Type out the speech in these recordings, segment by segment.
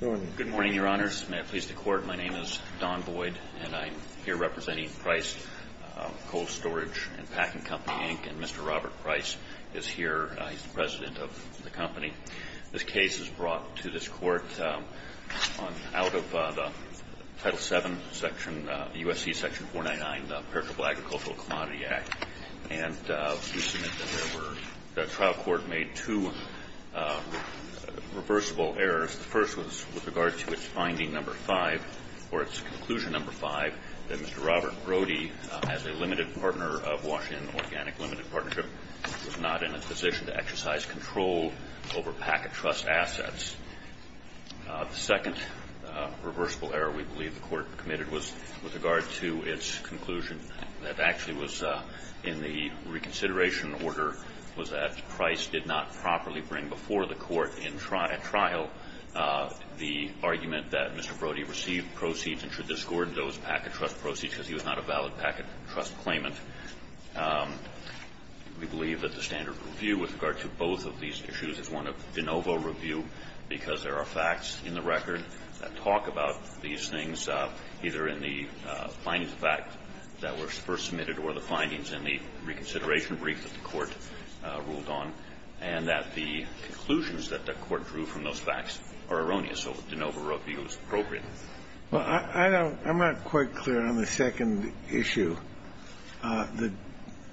Good morning, Your Honors. May it please the Court, my name is Don Boyd, and I'm here representing Price Cold Storage and Packing Company, Inc., and Mr. Robert Price is here. He's the president of the company. This case is brought to this Court out of the Title VII, USC Section 499, in the Perishable Agricultural Commodity Act, and we submit that the trial court made two reversible errors. The first was with regard to its finding number 5, or its conclusion number 5, that Mr. Robert Brody, as a limited partner of Washington Organic Limited Partnership, was not in a position to exercise control over packet trust assets. The second reversible error we believe the Court committed was with regard to its conclusion that actually was in the reconsideration order was that Price did not properly bring before the Court in trial the argument that Mr. Brody received proceeds and should discord those packet trust proceeds because he was not a valid packet trust claimant. We believe that the standard review with regard to both of these issues is one of de novo review because there are facts in the record that talk about these things, either in the findings of fact that were first submitted or the findings in the reconsideration brief that the Court ruled on, and that the conclusions that the Court drew from those facts are erroneous, so de novo review is appropriate. I'm not quite clear on the second issue.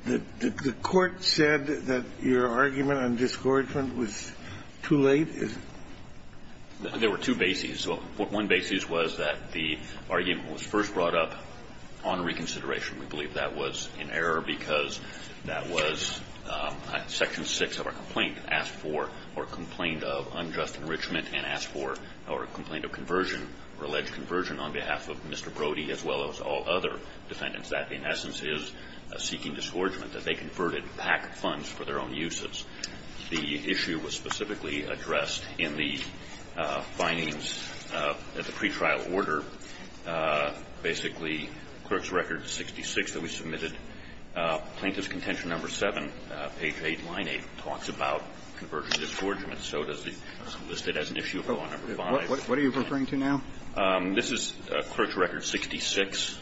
The Court said that your argument on discord was too late. There were two bases. One basis was that the argument was first brought up on reconsideration. We believe that was an error because that was section 6 of our complaint, asked for or complained of unjust enrichment and asked for or complained of conversion or alleged conversion on behalf of Mr. Brody as well as all other defendants. That, in essence, is seeking disgorgement, that they converted packet funds for their own uses. The issue was specifically addressed in the findings at the pretrial order, basically, clerks record 66 that we submitted. Plaintiff's contention number 7, page 8, line 8, talks about conversion disgorgement. So does the issue of law number 5. What are you referring to now? This is clerks record 66.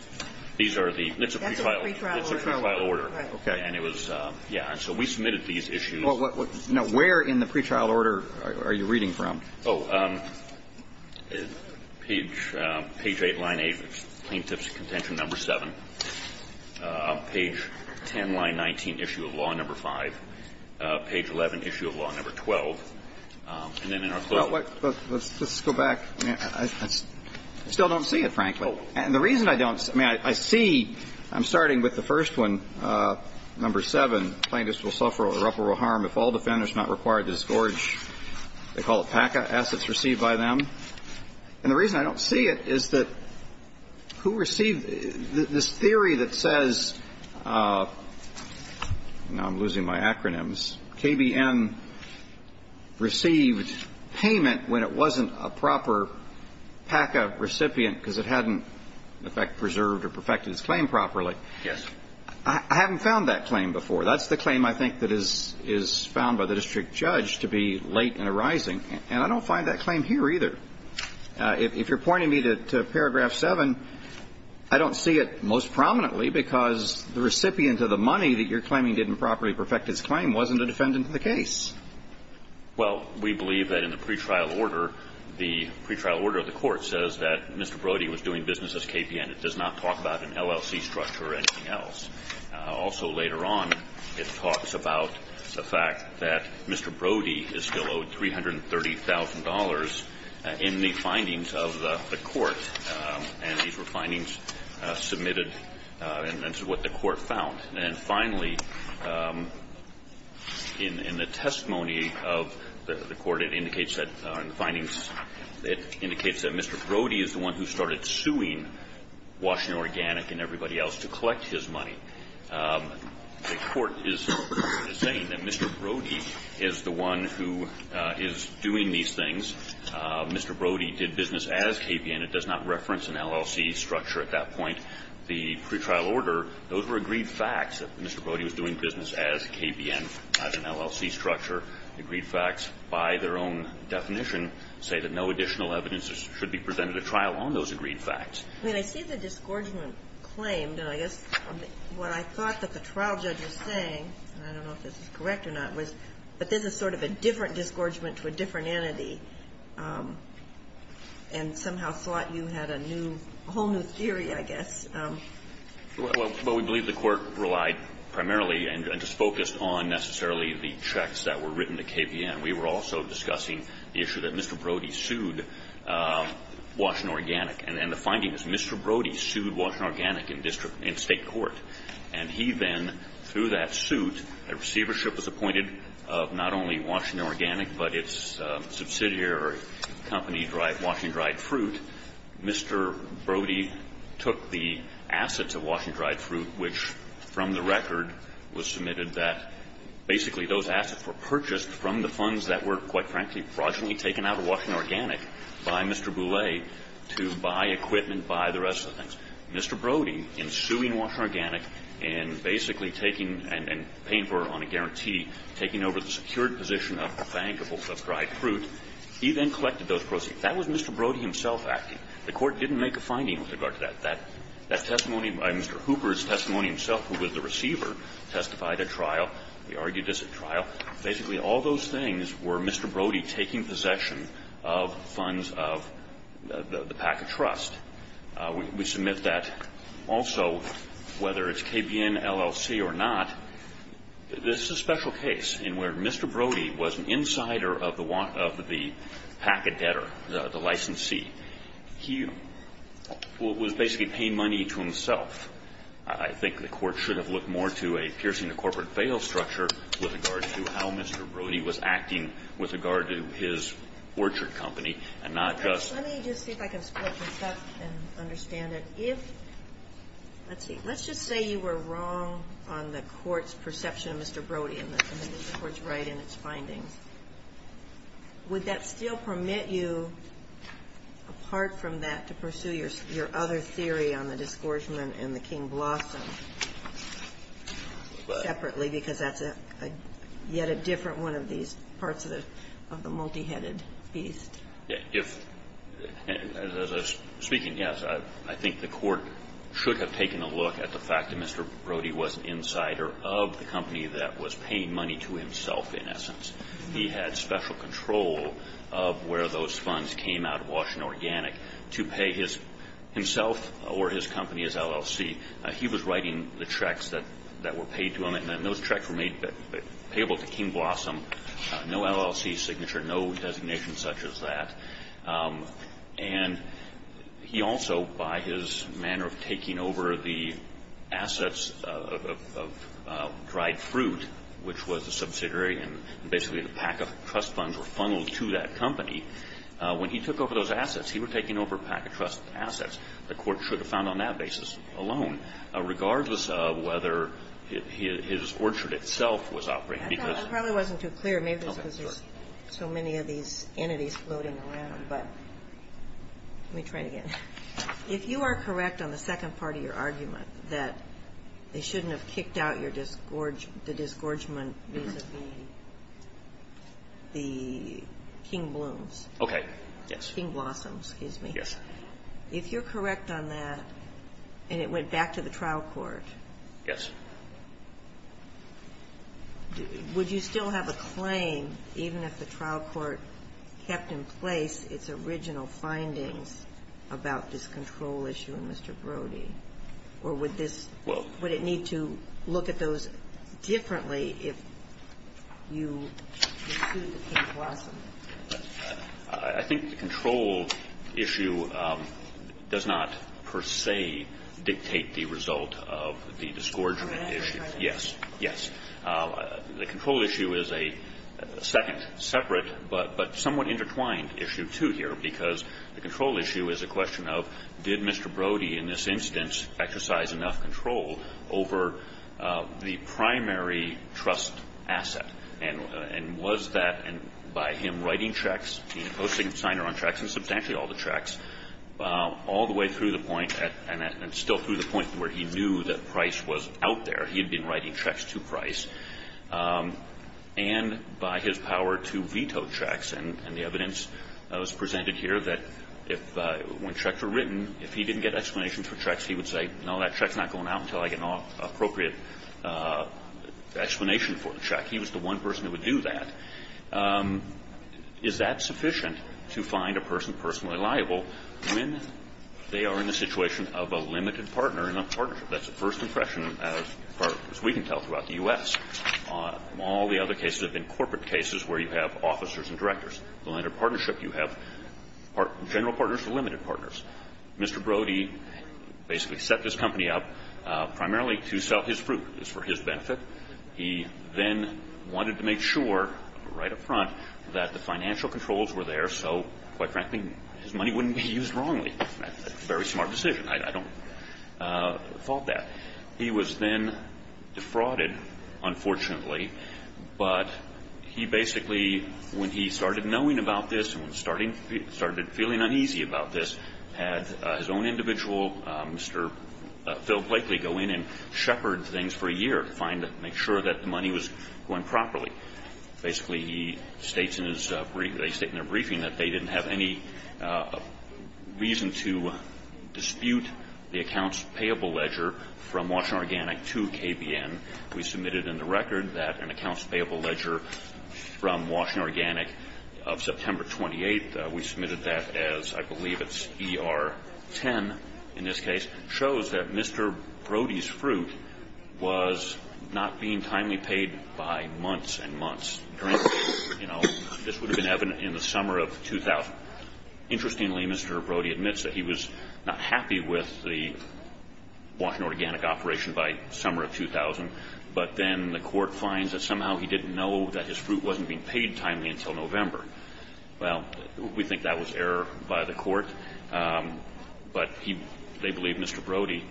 These are the pre-trial order. And it was, yeah, so we submitted these issues. Now, where in the pre-trial order are you reading from? Page 8, line 8, plaintiff's contention number 7. Page 10, line 19, issue of law number 5. Page 11, issue of law number 12. Well, let's just go back. I still don't see it, frankly. And the reason I don't, I mean, I see, I'm starting with the first one, number 7, plaintiffs will suffer irreparable harm if all defendants not required to disgorge, they call it PACA, assets received by them. And the reason I don't see it is that who received this theory that says, now I'm losing my acronyms, KBM received payment when it wasn't a proper PACA recipient because it hadn't, in effect, preserved or perfected its claim properly. Yes. I haven't found that claim before. That's the claim I think that is found by the district judge to be late in arising. And I don't find that claim here either. If you're pointing me to paragraph 7, I don't see it most prominently because the recipient of the money that you're claiming didn't properly perfect its claim wasn't a defendant in the case. Well, we believe that in the pretrial order, the pretrial order of the court says that Mr. Brody was doing business as KPN. It does not talk about an LLC structure or anything else. Also, later on, it talks about the fact that Mr. Brody is still owed $330,000 in the findings of the court. And these were findings submitted, and this is what the court found. And finally, in the testimony of the court, it indicates that, in the findings, it indicates that Mr. Brody is the one who started suing Washington Organic and everybody else to collect his money. The court is saying that Mr. Brody is the one who is doing these things. Mr. Brody did business as KPN. It does not reference an LLC structure at that point. The pretrial order, those were agreed facts that Mr. Brody was doing business as KPN, as an LLC structure. Agreed facts by their own definition say that no additional evidence should be presented at trial on those agreed facts. I mean, I see the disgorgement claim, and I guess what I thought that the trial judge was saying, and I don't know if this is correct or not, was that this is sort of a different disgorgement to a different entity and somehow thought you had a new whole new theory, I guess. Well, we believe the court relied primarily and just focused on necessarily the checks that were written to KPN. We were also discussing the issue that Mr. Brody sued Washington Organic. And the finding is Mr. Brody sued Washington Organic in state court. And he then, through that suit, a receivership was appointed of not only Washington Organic but its subsidiary company Washington Dried Fruit. Mr. Brody took the assets of Washington Dried Fruit, which from the record was submitted that basically those assets were purchased from the funds that were, quite frankly, fraudulently taken out of Washington Organic by Mr. Boulay to buy equipment, buy the rest of the things. Mr. Brody, in suing Washington Organic and basically taking and paying for it on a guarantee, taking over the secured position of the bank of Washington Dried Fruit, he then collected those proceeds. That was Mr. Brody himself acting. The court didn't make a finding with regard to that. That testimony by Mr. Hooper's testimony himself, who was the receiver, testified at trial. He argued this at trial. Basically all those things were Mr. Brody taking possession of funds of the pack of trust. We submit that also, whether it's KPN, LLC, or not, this is a special case in where Mr. Brody was an insider of the pack of debtor, the licensee. He was basically paying money to himself. I think the Court should have looked more to a piercing the corporate veil structure with regard to how Mr. Brody was acting with regard to his orchard company and not just to the bank. And understand that if, let's see, let's just say you were wrong on the Court's perception of Mr. Brody and that the Court's right in its findings. Would that still permit you, apart from that, to pursue your other theory on the disgorgement and the King Blossom separately, because that's a yet a different one of these parts of the multi-headed beast? If, as I was speaking, yes, I think the Court should have taken a look at the fact that Mr. Brody was an insider of the company that was paying money to himself, in essence. He had special control of where those funds came out of Washington Organic to pay himself or his company, his LLC. He was writing the checks that were paid to him. And those checks were made payable to King Blossom, no LLC signature, no designation such as that. And he also, by his manner of taking over the assets of Dried Fruit, which was a subsidiary and basically the pack-of-trust funds were funneled to that company, when he took over those assets, he was taking over pack-of-trust assets. The Court should have found on that basis alone, regardless of whether his orchard itself was operating. I probably wasn't too clear. Maybe it's because there's so many of these entities floating around. But let me try it again. If you are correct on the second part of your argument, that they shouldn't have kicked out the disgorgement vis-a-vis the King Blooms. Okay. Yes. King Blossom, excuse me. Yes. If you're correct on that, and it went back to the trial court. Yes. Would you still have a claim, even if the trial court kept in place its original findings about this control issue in Mr. Brody? Or would this need to look at those differently if you sued King Blossom? I think the control issue does not, per se, dictate the result of the disgorgement issue. Yes. Yes. The control issue is a second, separate, but somewhat intertwined issue, too, here. Because the control issue is a question of did Mr. Brody, in this instance, exercise enough control over the primary trust asset. And was that, by him writing checks, being a posting signer on checks, and substantially all the checks, all the way through the point, and still through the point where he knew that Price was out there, he had been writing checks to Price, and by his power to veto checks. And the evidence was presented here that if, when checks were written, if he didn't get explanations for checks, he would say, no, that check's not going out until I get an appropriate explanation for the check. He was the one person who would do that. Is that sufficient to find a person personally liable when they are in a situation of a limited partner in a partnership? That's the first impression, as far as we can tell, throughout the U.S. All the other cases have been corporate cases where you have officers and directors. Under partnership, you have general partners or limited partners. Mr. Brody basically set this company up primarily to sell his fruit. It was for his benefit. He then wanted to make sure, right up front, that the financial controls were there so, quite frankly, his money wouldn't be used wrongly. That's a very smart decision. I don't fault that. He was then defrauded, unfortunately, but he basically, when he started knowing about this and started feeling uneasy about this, had his own individual, Mr. Phil Blakely, go in and shepherd things for a year to find and make sure that the money was going properly. Basically, he states in his brief, they state in their briefing that they didn't have any reason to dispute the accounts payable ledger from Washington Organic to KBN. We submitted in the record that an accounts payable ledger from Washington Organic, September 28th, we submitted that as, I believe it's ER 10 in this case, shows that Mr. Brody's fruit was not being timely paid by months and months. This would have been evident in the summer of 2000. Interestingly, Mr. Brody admits that he was not happy with the Washington Organic operation by summer of 2000, but then the court finds that somehow he Well, we think that was error by the court. But he, they believe Mr. Brody,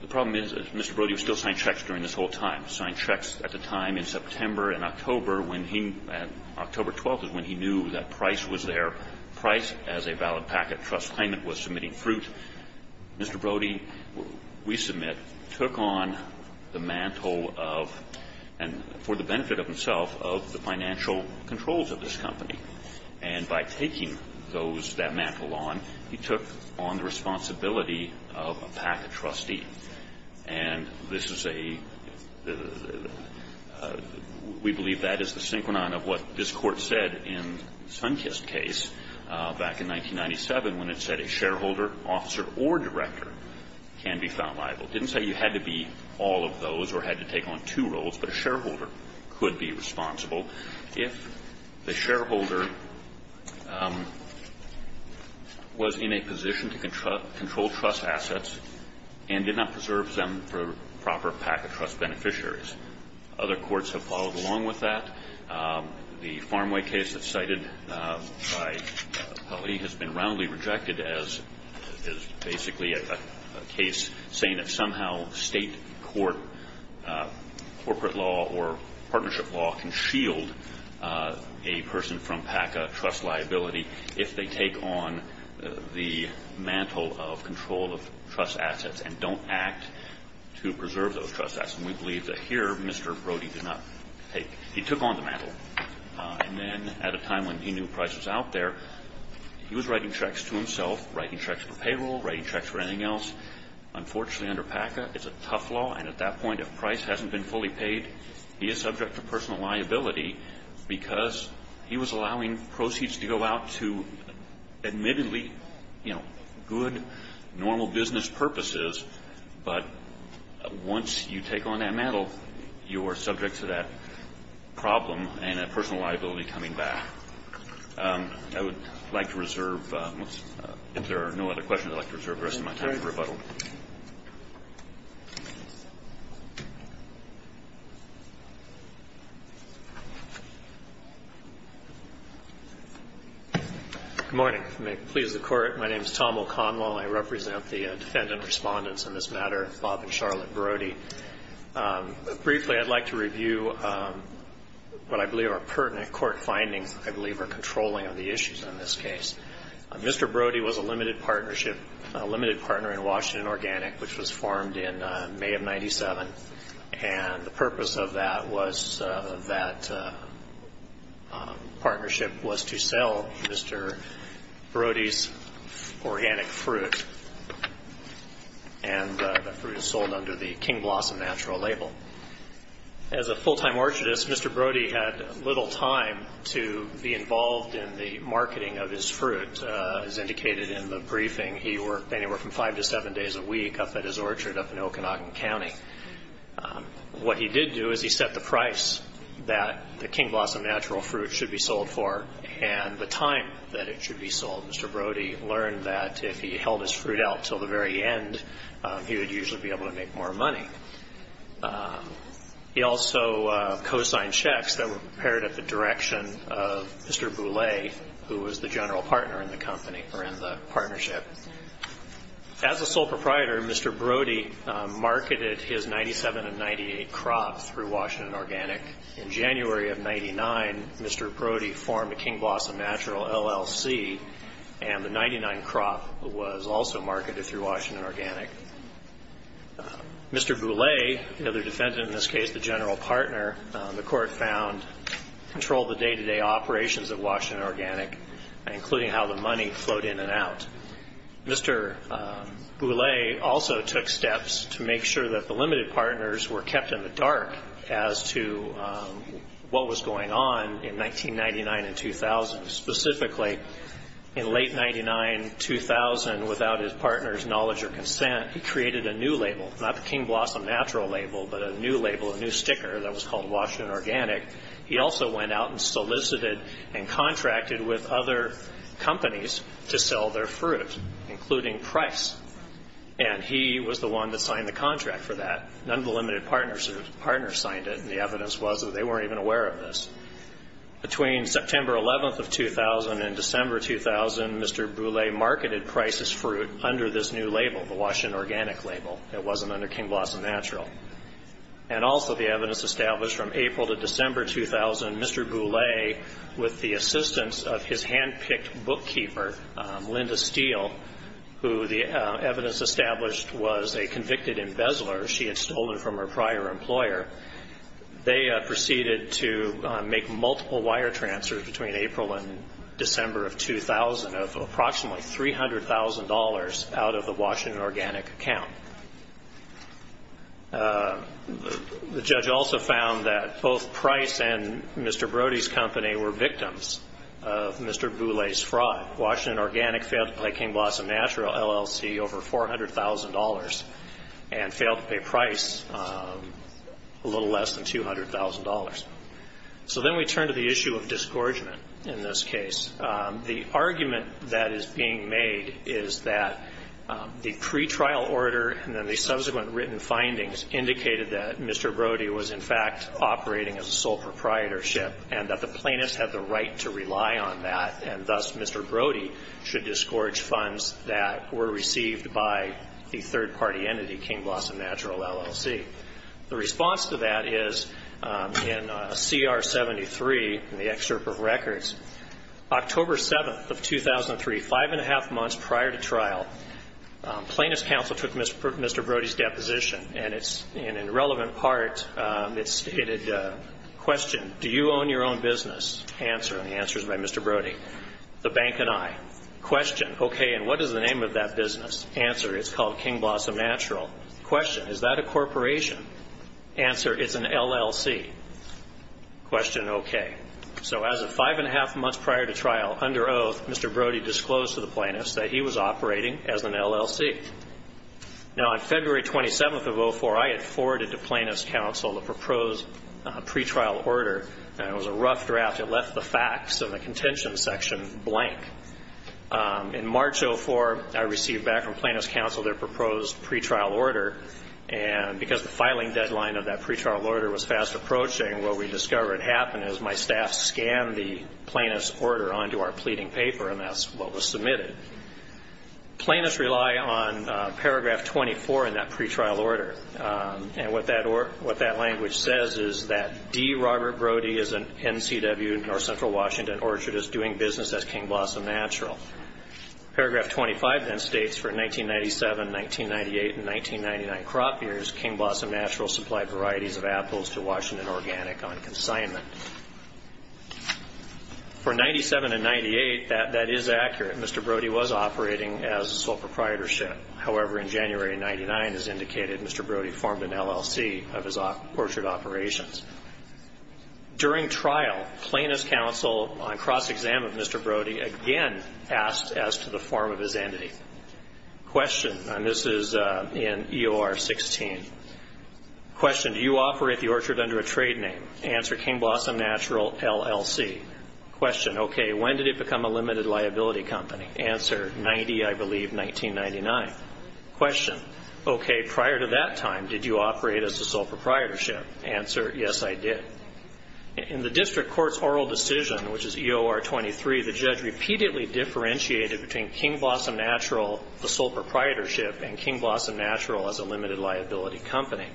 the problem is that Mr. Brody was still signing checks during this whole time, signed checks at the time in September and October when he, October 12th is when he knew that price was there, price as a valid packet trust payment was submitting fruit. Mr. Brody, we submit, took on the mantle of, and for the benefit of himself, of the financial controls of this company. And by taking those, that mantle on, he took on the responsibility of a packet trustee. And this is a, we believe that is the synchronon of what this court said in Sunkist's case back in 1997 when it said a shareholder, officer, or director can be found liable. It didn't say you had to be all of those or had to take on two roles, but a shareholder could be responsible if the shareholder was in a position to control trust assets and did not preserve them for proper packet trust beneficiaries. Other courts have followed along with that. The Farmway case that's cited by Hawley has been roundly rejected as basically a case saying that somehow state court, corporate law, or partnership law can shield a person from PACA trust liability if they take on the mantle of control of trust assets and don't act to preserve those trust assets. And we believe that here, Mr. Brody did not take, he took on the mantle. And then at a time when he knew price was out there, he was writing checks to anything else. Unfortunately, under PACA, it's a tough law. And at that point, if price hasn't been fully paid, he is subject to personal liability because he was allowing proceeds to go out to admittedly, you know, good, normal business purposes. But once you take on that mantle, you are subject to that problem and a personal liability coming back. I would like to reserve, if there are no other questions, I would like to reserve the rest of my time for rebuttal. Good morning. May it please the Court. My name is Tom O'Connell. I represent the defendant respondents in this matter, Bob and Charlotte Brody. Briefly, I'd like to review what I believe are pertinent court findings that I believe are controlling on the issues in this case. Mr. Brody was a limited partnership, a limited partner in Washington Organic, which was formed in May of 97. And the purpose of that was that partnership was to sell Mr. Brody's organic fruit, and that fruit is sold under the King Blossom Natural label. As a full-time orchardist, Mr. Brody had little time to be involved in the marketing of his fruit. As indicated in the briefing, he worked anywhere from five to seven days a week up at his orchard up in Okanagan County. What he did do is he set the price that the King Blossom Natural fruit should be sold for and the time that it should be sold. Mr. Brody learned that if he held his fruit out until the very end, he would usually be able to make more money. He also co-signed checks that were prepared at the direction of Mr. Boulay, who was the general partner in the partnership. As a sole proprietor, Mr. Brody marketed his 97 and 98 crops through Washington Organic. In January of 99, Mr. Brody formed the King Blossom Natural LLC, and the 99 crop was also marketed through Washington Organic. Mr. Boulay, the other defendant in this case, the general partner, the court found controlled the day-to-day operations of Washington Organic, including how the money flowed in and out. Mr. Boulay also took steps to make sure that the limited partners were kept in the dark as to what was going on in 1999 and 2000. Specifically, in late 1999-2000, without his partner's knowledge or consent, he created a new label, not the King Blossom Natural label, but a new label, a new sticker that was called Washington Organic. He also went out and solicited and contracted with other companies to sell their fruit, including Price. And he was the one that signed the contract for that. None of the limited partners signed it, and the evidence was that they weren't even aware of this. Between September 11th of 2000 and December 2000, Mr. Boulay marketed Price's fruit under this new label, the Washington Organic label. It wasn't under King Blossom Natural. And also the evidence established from April to December 2000, Mr. Boulay, with the assistance of his hand-picked bookkeeper, Linda Steele, who the evidence established was a convicted embezzler. She had stolen from her prior employer. They proceeded to make multiple wire transfers between April and December of 2000 of approximately $300,000 out of the Washington Organic account. The judge also found that both Price and Mr. Brody's company were victims of Mr. Boulay's fraud. Washington Organic failed to pay King Blossom Natural LLC over $400,000 and failed to pay Price a little less than $200,000. So then we turn to the issue of disgorgement in this case. The argument that is being made is that the pretrial order and then the subsequent written findings indicated that Mr. Brody was, in fact, operating as a sole proprietorship and that the plaintiffs had the right to rely on that, and thus Mr. Brody should disgorge funds that were received by the third-party entity, King Blossom Natural LLC. The response to that is in CR 73, in the excerpt of records, October 7th of 2003, five and a half months prior to trial, plaintiff's counsel took Mr. Brody's deposition, and in relevant part it stated, question, do you own your own business? Answer, and the answer is by Mr. Brody, the bank and I. Question, okay, and what is the name of that business? Answer, it's called King Blossom Natural. Question, is that a corporation? Answer, it's an LLC. Question, okay. So as of five and a half months prior to trial, under oath, Mr. Brody disclosed to the plaintiffs that he was operating as an LLC. Now, on February 27th of 2004, I had forwarded to plaintiff's counsel the proposed pretrial order, and it was a rough draft. It left the facts of the contention section blank. In March of 2004, I received back from plaintiff's counsel their proposed pretrial order, and because the filing deadline of that pretrial order was fast approaching, what we discovered happened is my staff scanned the plaintiff's order onto our pleading paper, and that's what was submitted. Plaintiffs rely on paragraph 24 in that pretrial order, and what that language says is that D. Robert Brody is an NCW North Central Washington orchardist doing business as King Blossom Natural. Paragraph 25 then states, for 1997, 1998, and 1999 crop years, King Blossom Natural supplied varieties of apples to Washington Organic on consignment. For 1997 and 1998, that is accurate. Mr. Brody was operating as a sole proprietorship. However, in January of 1999, as indicated, Mr. Brody formed an LLC of his orchard operations. During trial, plaintiff's counsel, on cross-exam of Mr. Brody, again asked as to the form of his entity. Question, and this is in EOR 16. Question, do you operate the orchard under a trade name? Answer, King Blossom Natural LLC. Question, okay, when did it become a limited liability company? Answer, 90, I believe, 1999. Question, okay, prior to that time, did you operate as a sole proprietorship? Answer, yes, I did. In the district court's oral decision, which is EOR 23, the judge repeatedly differentiated between King Blossom Natural, the sole proprietorship, and King Blossom Natural as a limited liability company.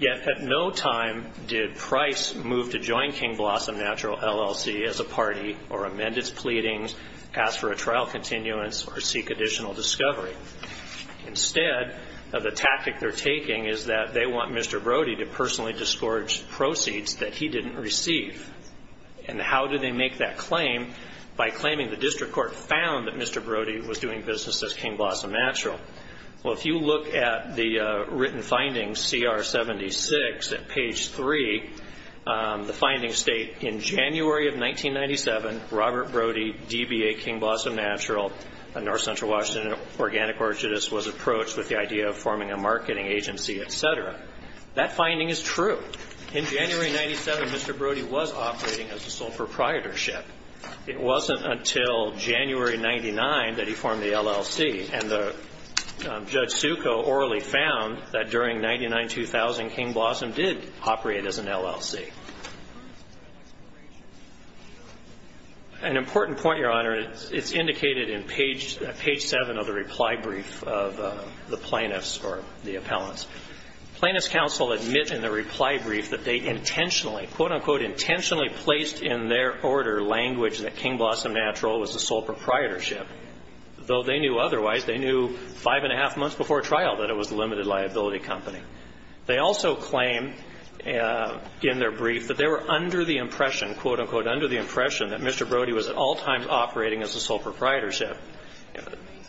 Yet at no time did Price move to join King Blossom Natural LLC as a party or amend its pleadings, ask for a trial continuance, or seek additional discovery. Instead, the tactic they're taking is that they want Mr. Brody to personally discourage proceeds that he didn't receive. And how do they make that claim? By claiming the district court found that Mr. Brody was doing business as King Blossom Natural. Well, if you look at the written findings, CR 76 at page 3, the findings state, in January of 1997, Robert Brody, DBA, King Blossom Natural, North Central Washington Organic Orchardist, was approached with the idea of forming a marketing agency, et cetera. That finding is true. In January 1997, Mr. Brody was operating as a sole proprietorship. It wasn't until January 1999 that he formed the LLC, and Judge Succo orally found that during 1999-2000, King Blossom did operate as an LLC. An important point, Your Honor, it's indicated in page 7 of the reply brief of the plaintiffs or the appellants. Plaintiffs' counsel admit in the reply brief that they intentionally, quote, unquote, intentionally placed in their order language that King Blossom Natural was the sole proprietorship, though they knew otherwise. They knew five and a half months before trial that it was a limited liability company. They also claim in their brief that they were under the impression, quote, unquote, under the impression that Mr. Brody was at all times operating as a sole proprietorship.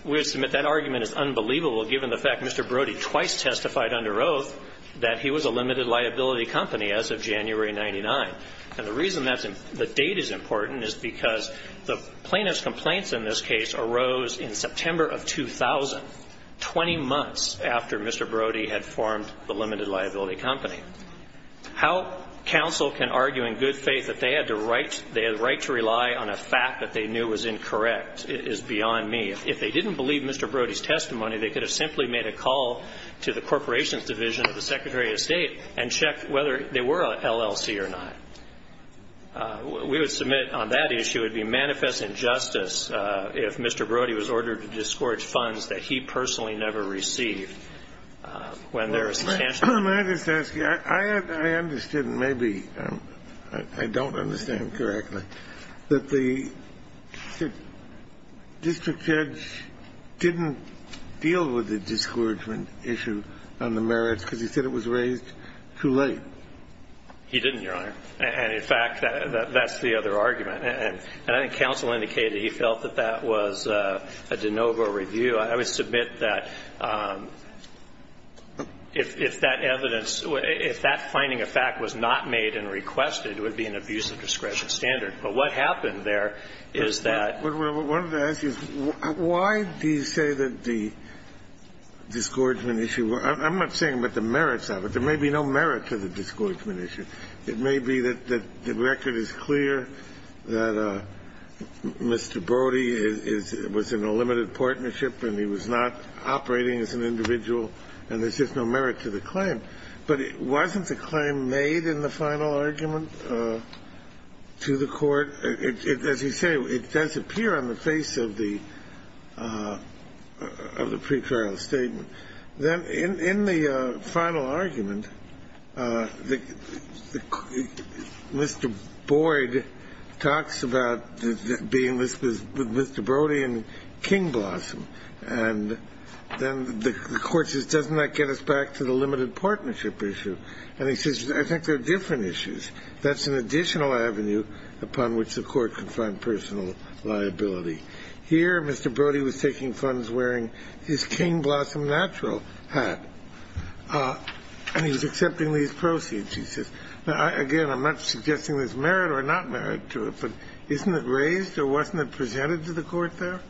We would submit that argument is unbelievable, given the fact Mr. Brody twice testified under oath that he was a limited liability company as of January 1999. And the reason that the date is important is because the plaintiff's complaints in this case arose in September of 2000, 20 months after Mr. Brody had formed the limited liability company. How counsel can argue in good faith that they had the right to rely on a fact that they knew was incorrect is beyond me. If they didn't believe Mr. Brody's testimony, they could have simply made a call to the We would submit on that issue it would be manifest injustice if Mr. Brody was ordered to discourage funds that he personally never received when there is substantial I just ask you, I understood maybe, I don't understand correctly, that the district judge didn't deal with the discouragement issue on the merits because he said it was He didn't, Your Honor. And in fact, that's the other argument. And I think counsel indicated he felt that that was a de novo review. I would submit that if that evidence, if that finding of fact was not made and requested, it would be an abuse of discretion standard. But what happened there is that I wanted to ask you, why do you say that the discouragement issue, I'm not saying about the merits of it, there may be no merit to the discouragement issue. It may be that the record is clear that Mr. Brody was in a limited partnership and he was not operating as an individual and there's just no merit to the claim. But wasn't the claim made in the final argument to the court? As you say, it does appear on the face of the pretrial statement. Then in the final argument, Mr. Boyd talks about being with Mr. Brody and King Blossom, and then the court says, doesn't that get us back to the limited partnership issue? And he says, I think they're different issues. That's an additional avenue upon which the court can find personal liability. Here, Mr. Brody was taking funds wearing his King Blossom natural hat, and he's accepting these proceeds. He says, again, I'm not suggesting there's merit or not merit to it, but isn't it raised or wasn't it presented to the court there?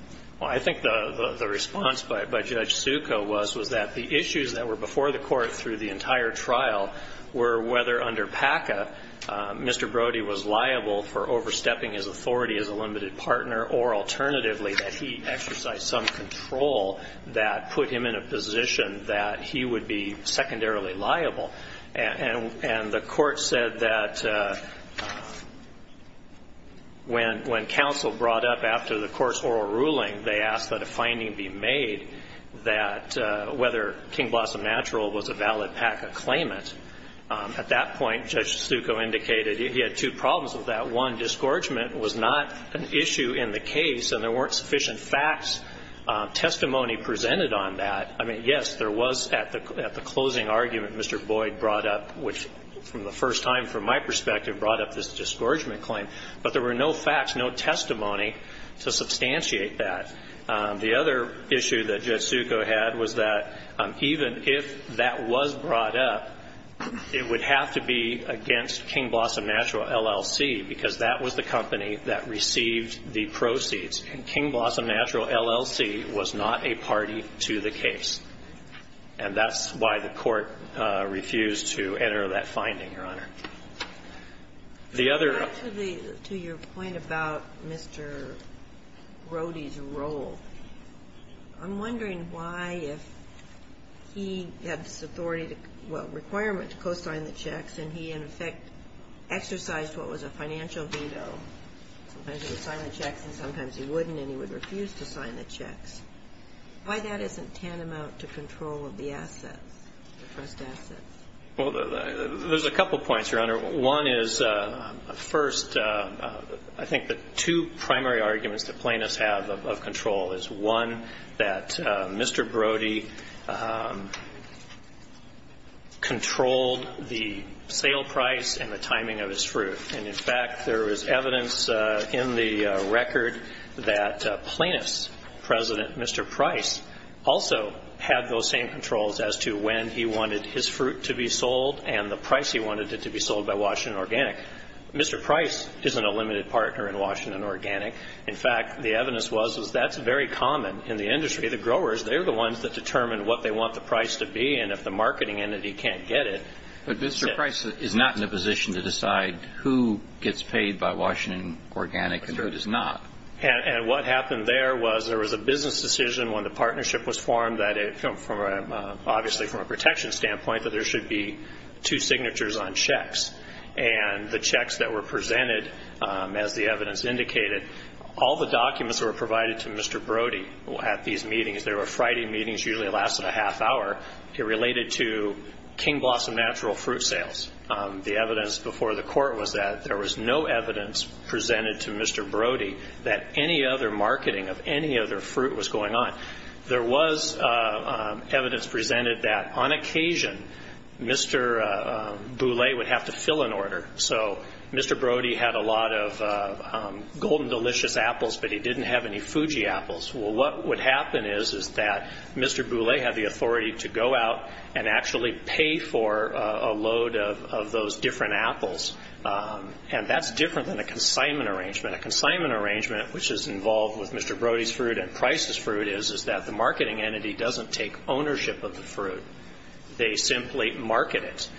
Well, I think the response by Judge Succo was, was that the issues that were before the court through the entire trial were whether under PACA, Mr. Brody was liable for overstepping his authority as a limited partner, or alternatively, that he exercised some control that put him in a position that he would be secondarily liable. And the court said that when counsel brought up after the court's oral ruling, they asked that a finding be made that whether King Blossom natural was a valid PACA claimant. At that point, Judge Succo indicated he had two problems with that. One, disgorgement was not an issue in the case, and there weren't sufficient facts, testimony presented on that. I mean, yes, there was at the closing argument Mr. Boyd brought up, which from the first time from my perspective brought up this disgorgement claim, but there were no facts, no testimony to substantiate that. The other issue that Judge Succo had was that even if that was brought up, it would have to be against King Blossom Natural, LLC, because that was the company that received the proceeds. And King Blossom Natural, LLC was not a party to the case. And that's why the court refused to enter that finding, Your Honor. The other ---- To your point about Mr. Brody's role, I'm wondering why, if he had this authority to ---- well, requirement to co-sign the checks, and he, in effect, exercised what was a financial veto, sometimes he would sign the checks and sometimes he wouldn't, and he would refuse to sign the checks, why that isn't tantamount to control of the assets, the trust assets? Well, there's a couple points, Your Honor. One is, first, I think the two primary arguments that Plaintiffs have of control is, one, that Mr. Brody controlled the sale price and the timing of his fruit. And, in fact, there is evidence in the record that Plaintiffs' President, Mr. Price, also had those same controls as to when he wanted his fruit to be sold and the price he wanted it to be sold by Washington Organic. Mr. Price isn't a limited partner in Washington Organic. In fact, the evidence was that's very common in the industry. The growers, they're the ones that determine what they want the price to be, and if the marketing entity can't get it ---- But Mr. Price is not in a position to decide who gets paid by Washington Organic and who does not. And what happened there was there was a business decision when the partnership was formed that, obviously from a protection standpoint, that there should be two signatures on checks. And the checks that were presented, as the evidence indicated, all the documents that were provided to Mr. Brody at these meetings, they were Friday meetings, usually lasted a half hour, related to King Blossom Natural fruit sales. The evidence before the court was that there was no evidence presented to Mr. Brody that any other marketing of any other fruit was going on. There was evidence presented that on occasion Mr. Boulay would have to fill an order. So Mr. Brody had a lot of Golden Delicious apples, but he didn't have any Fuji apples. Well, what would happen is that Mr. Boulay had the authority to go out and actually pay for a load of those different apples. And that's different than a consignment arrangement. A consignment arrangement, which is involved with Mr. Brody's fruit and Price's fruit, is that the marketing entity doesn't take ownership of the fruit. They simply market it.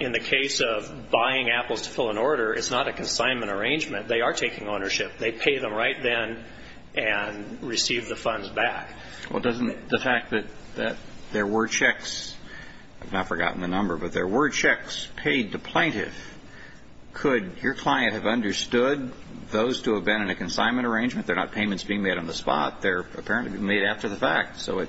In the case of buying apples to fill an order, it's not a consignment arrangement. They are taking ownership. They pay them right then and receive the funds back. Well, doesn't the fact that there were checks, I've now forgotten the number, but there were checks paid to plaintiff, could your client have understood those to have been in a consignment arrangement? They're not payments being made on the spot. They're apparently being made after the fact. So it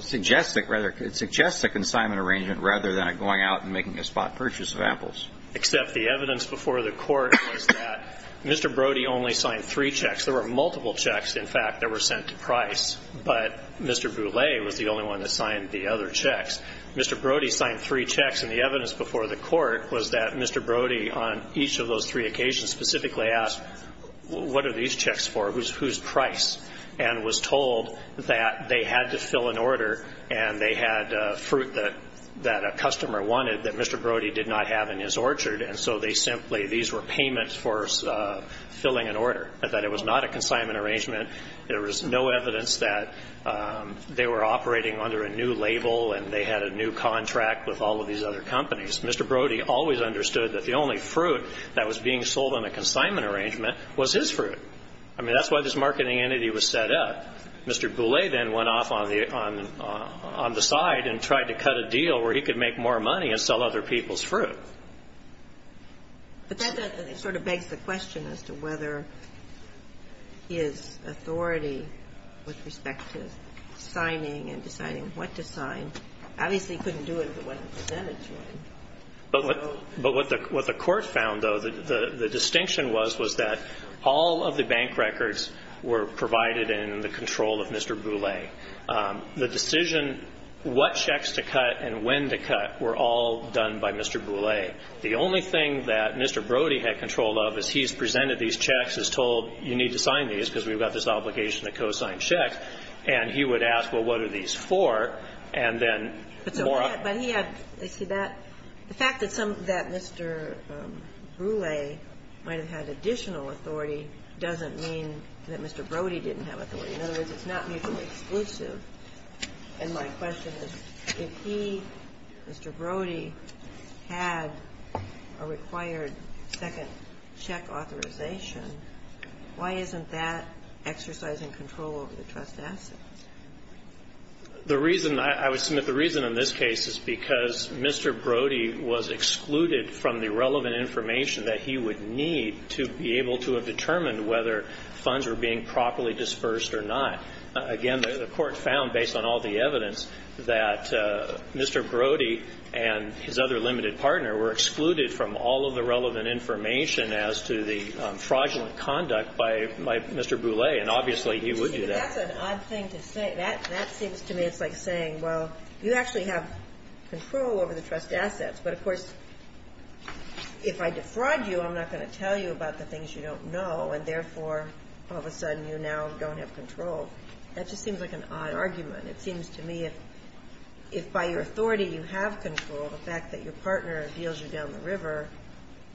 suggests a consignment arrangement rather than it going out and making a spot purchase of apples. Except the evidence before the court was that Mr. Brody only signed three checks. There were multiple checks, in fact, that were sent to Price, but Mr. Boulay was the only one that signed the other checks. Mr. Brody signed three checks, and the evidence before the court was that Mr. Brody on each of those three occasions specifically asked what are these checks for, whose price, and was told that they had to fill an order and they had fruit that a customer wanted that Mr. Brody did not have in his orchard. And so they simply, these were payments for filling an order, that it was not a consignment arrangement. There was no evidence that they were operating under a new label and they had a new contract with all of these other companies. Mr. Brody always understood that the only fruit that was being sold on a consignment arrangement was his fruit. I mean, that's why this marketing entity was set up. Mr. Boulay then went off on the side and tried to cut a deal where he could make more money and sell other people's fruit. But that sort of begs the question as to whether his authority with respect to signing and deciding what to sign, obviously he couldn't do it if it wasn't presented to him. But what the court found, though, the distinction was, was that all of the bank records were provided in the control of Mr. Boulay. The decision what checks to cut and when to cut were all done by Mr. Boulay. The only thing that Mr. Brody had control of as he's presented these checks is told you need to sign these because we've got this obligation to co-sign checks. And he would ask, well, what are these for? And then more of the fact that Mr. Boulay might have had additional authority doesn't mean that Mr. Brody didn't have authority. In other words, it's not mutually exclusive. And my question is, if he, Mr. Brody, had a required second check authorization, why isn't that exercising control over the trust assets? The reason I would submit the reason in this case is because Mr. Brody was excluded from the relevant information that he would need to be able to have determined whether funds were being properly dispersed or not. Again, the court found, based on all the evidence, that Mr. Brody and his other by Mr. Boulay. And obviously, he would do that. But that's an odd thing to say. That seems to me it's like saying, well, you actually have control over the trust assets. But, of course, if I defraud you, I'm not going to tell you about the things you don't know. And, therefore, all of a sudden you now don't have control. That just seems like an odd argument. It seems to me if by your authority you have control, the fact that your partner deals you down the river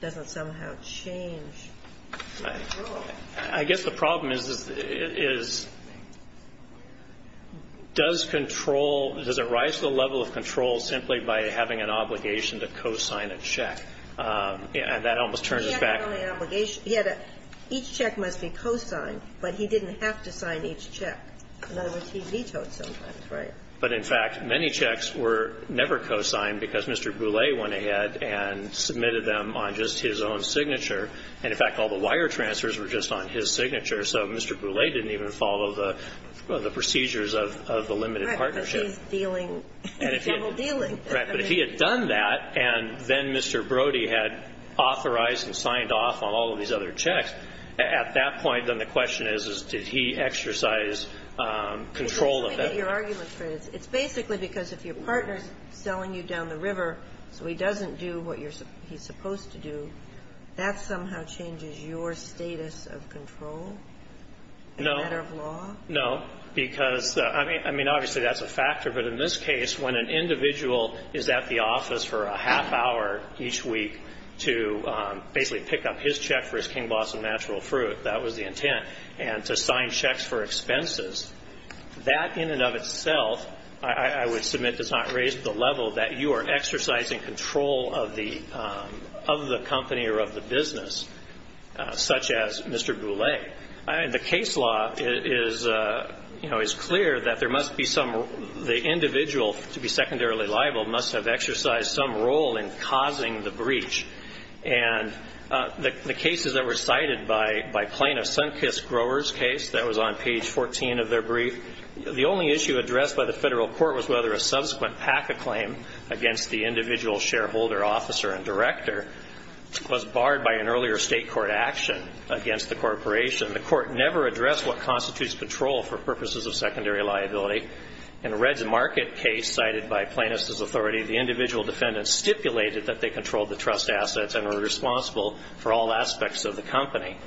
doesn't somehow change. I guess the problem is, is does control, does it rise to the level of control simply by having an obligation to co-sign a check? And that almost turns us back. He had not only an obligation. He had a each check must be co-signed, but he didn't have to sign each check. In other words, he vetoed sometimes. Right. But, in fact, many checks were never co-signed because Mr. Boulay went ahead and submitted them on just his own signature. And, in fact, all the wire transfers were just on his signature. So Mr. Boulay didn't even follow the procedures of the limited partnership. Right. Because he's dealing. He's double dealing. Right. But if he had done that, and then Mr. Brody had authorized and signed off on all of these other checks, at that point, then the question is, is did he exercise control of that? This is where I get your argument, Fred. It's basically because if your partner is selling you down the river so he doesn't do what he's supposed to do, that somehow changes your status of control? No. As a matter of law? No. Because, I mean, obviously that's a factor. But in this case, when an individual is at the office for a half hour each week to basically pick up his check for his King Blossom natural fruit, that was the intent, and to sign checks for expenses, that in and of itself, I would submit, does not raise the level that you are exercising control of the company or of the business, such as Mr. Boulay. The case law is clear that there must be some, the individual, to be secondarily liable, must have exercised some role in causing the breach. And the cases that were cited by Plano, Sunkist Growers' case, that was on page 14 of their brief, the only issue addressed by the federal court was whether a subsequent PACA claim against the individual shareholder, officer, and director was barred by an earlier state court action against the corporation. The court never addressed what constitutes patrol for purposes of secondary liability. In Red's Market case, cited by Plano's authority, the individual defendant stipulated that they controlled the trust assets and were responsible for all aspects of the company.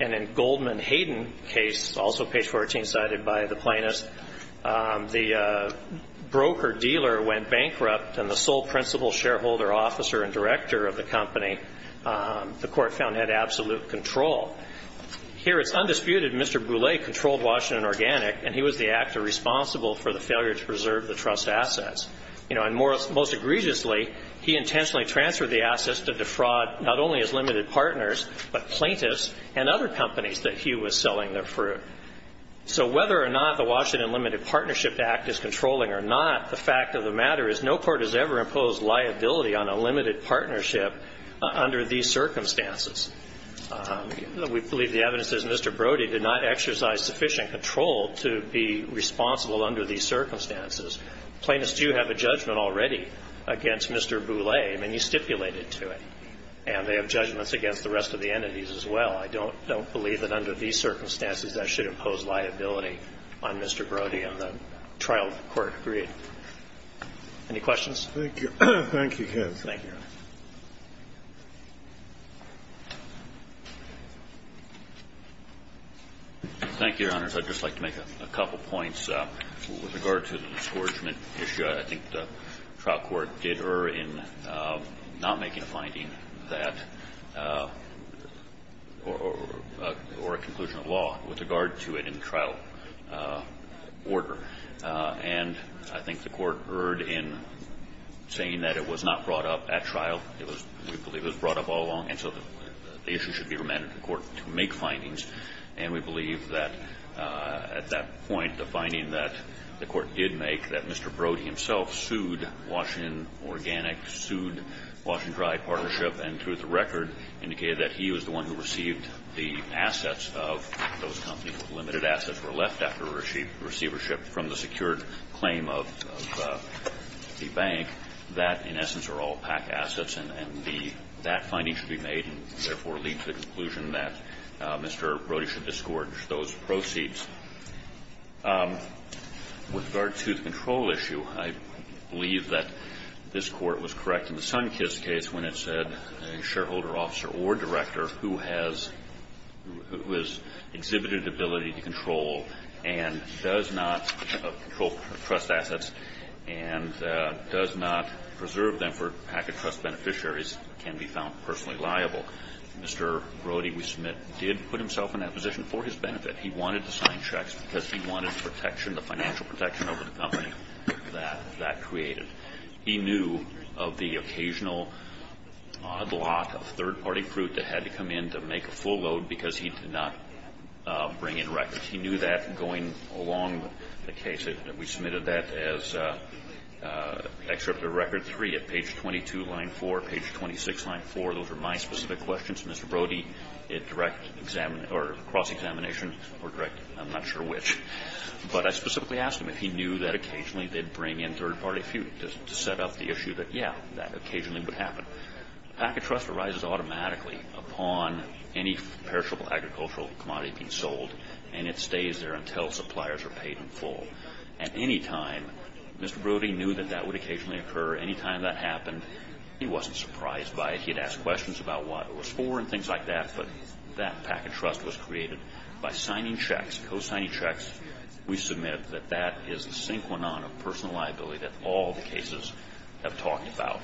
And in Goldman Hayden case, also page 14 cited by the Plano's, the broker-dealer went bankrupt, and the sole principal shareholder, officer, and director of the company, the court found had absolute control. Here it's undisputed Mr. Boulay controlled Washington Organic, and he was the actor responsible for the failure to preserve the trust assets. You know, and most egregiously, he intentionally transferred the assets to defraud not only his limited partners, but plaintiffs and other companies that he was selling their fruit. So whether or not the Washington Limited Partnership Act is controlling or not, the fact of the matter is no court has ever imposed liability on a limited partnership under these circumstances. We believe the evidence says Mr. Brody did not exercise sufficient control to be responsible under these circumstances. Plaintiffs do have a judgment already against Mr. Boulay. I mean, he stipulated to it. And they have judgments against the rest of the entities as well. I don't believe that under these circumstances that should impose liability on Mr. Brody, and the trial court agreed. Any questions? Thank you. Thank you, Ken. Thank you. Thank you, Your Honors. I'd just like to make a couple points with regard to the discouragement issue. I think the trial court did err in not making a finding that or a conclusion of law with regard to it in the trial order. And I think the court erred in saying that it was not brought up at trial. It was we believe it was brought up all along. And so the issue should be remanded to the court to make findings. And we believe that at that point the finding that the court did make that Mr. Brody himself sued Washington Organic, sued Washington Dry Partnership, and through the record indicated that he was the one who received the assets of those companies. Limited assets were left after receivership from the secured claim of the bank. That, in essence, are all PAC assets. And that finding should be made and therefore lead to the conclusion that Mr. Brody should discourage those proceeds. With regard to the control issue, I believe that this Court was correct in the Sunkist case when it said a shareholder, officer, or director who has exhibited ability to control and does not control trust assets and does not preserve them for PACA trust beneficiaries can be found personally liable. Mr. Brody, we submit, did put himself in that position for his benefit. He wanted to sign checks because he wanted protection, the financial protection of the company that that created. He knew of the occasional odd lot of third-party fruit that had to come in to make a full load because he did not bring in records. He knew that going along the case. We submitted that as Excerpt of Record 3 at page 22, line 4, page 26, line 4. Those are my specific questions. Mr. Brody, it direct cross-examination or direct, I'm not sure which, but I specifically asked him if he knew that occasionally they'd bring in third-party fruit to set up the issue that, yeah, that occasionally would happen. PACA trust arises automatically upon any perishable agricultural commodity being sold, and it stays there until suppliers are paid in full. At any time, Mr. Brody knew that that would occasionally occur. Any time that happened, he wasn't surprised by it. There were questions about what it was for and things like that, but that PACA trust was created by signing checks, co-signing checks. We submit that that is a synchronon of personal liability that all the cases have talked about.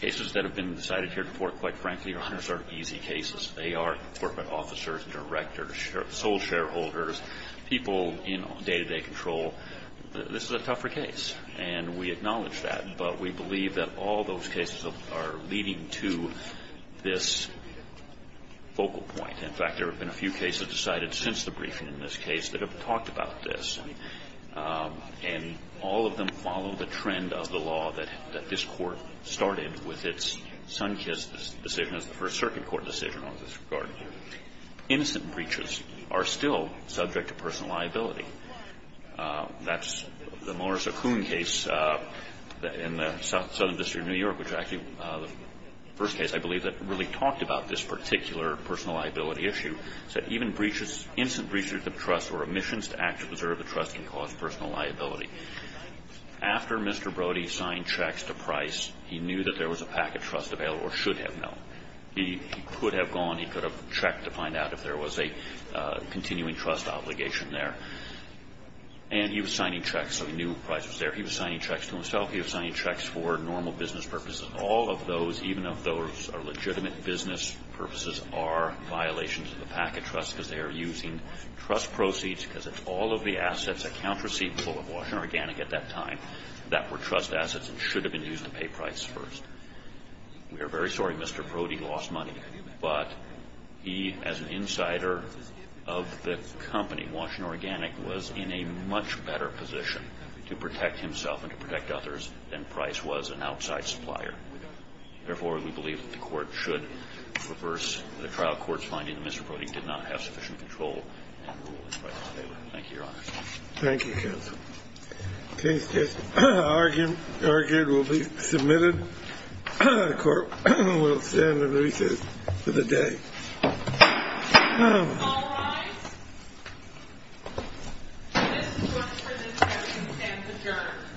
Cases that have been decided here before, quite frankly, Your Honors, are easy cases. They are corporate officers, directors, sole shareholders, people in day-to-day control. This is a tougher case, and we acknowledge that, but we believe that all those cases are leading to this focal point. In fact, there have been a few cases decided since the briefing in this case that have talked about this, and all of them follow the trend of the law that this Court started with its Sunkist decision as the first circuit court decision on this regard. Innocent breachers are still subject to personal liability. That's the Morris O'Koone case in the Southern District of New York, which actually the first case, I believe, that really talked about this particular personal liability issue. It said even instant breaches of trust or omissions to act to preserve the trust can cause personal liability. After Mr. Brody signed checks to Price, he knew that there was a PACA trust available or should have known. He could have gone. He could have checked to find out if there was a continuing trust obligation there. And he was signing checks, so he knew Price was there. He was signing checks to himself. He was signing checks for normal business purposes. All of those, even if those are legitimate business purposes, are violations of the PACA trust because they are using trust proceeds because it's all of the assets, accounts receivable of Washington Organic at that time, that were trust assets and should have been used to pay Price first. We are very sorry Mr. Brody lost money, but he, as an insider of the company, knew that Washington Organic was in a much better position to protect himself and to protect others than Price was, an outside supplier. Therefore, we believe that the court should reverse the trial court's finding that Mr. Brody did not have sufficient control and rule in Price's favor. Thank you, Your Honor. Thank you, counsel. Case just argued will be submitted. The court will stand in recess for the day. All rise. This court is adjourned.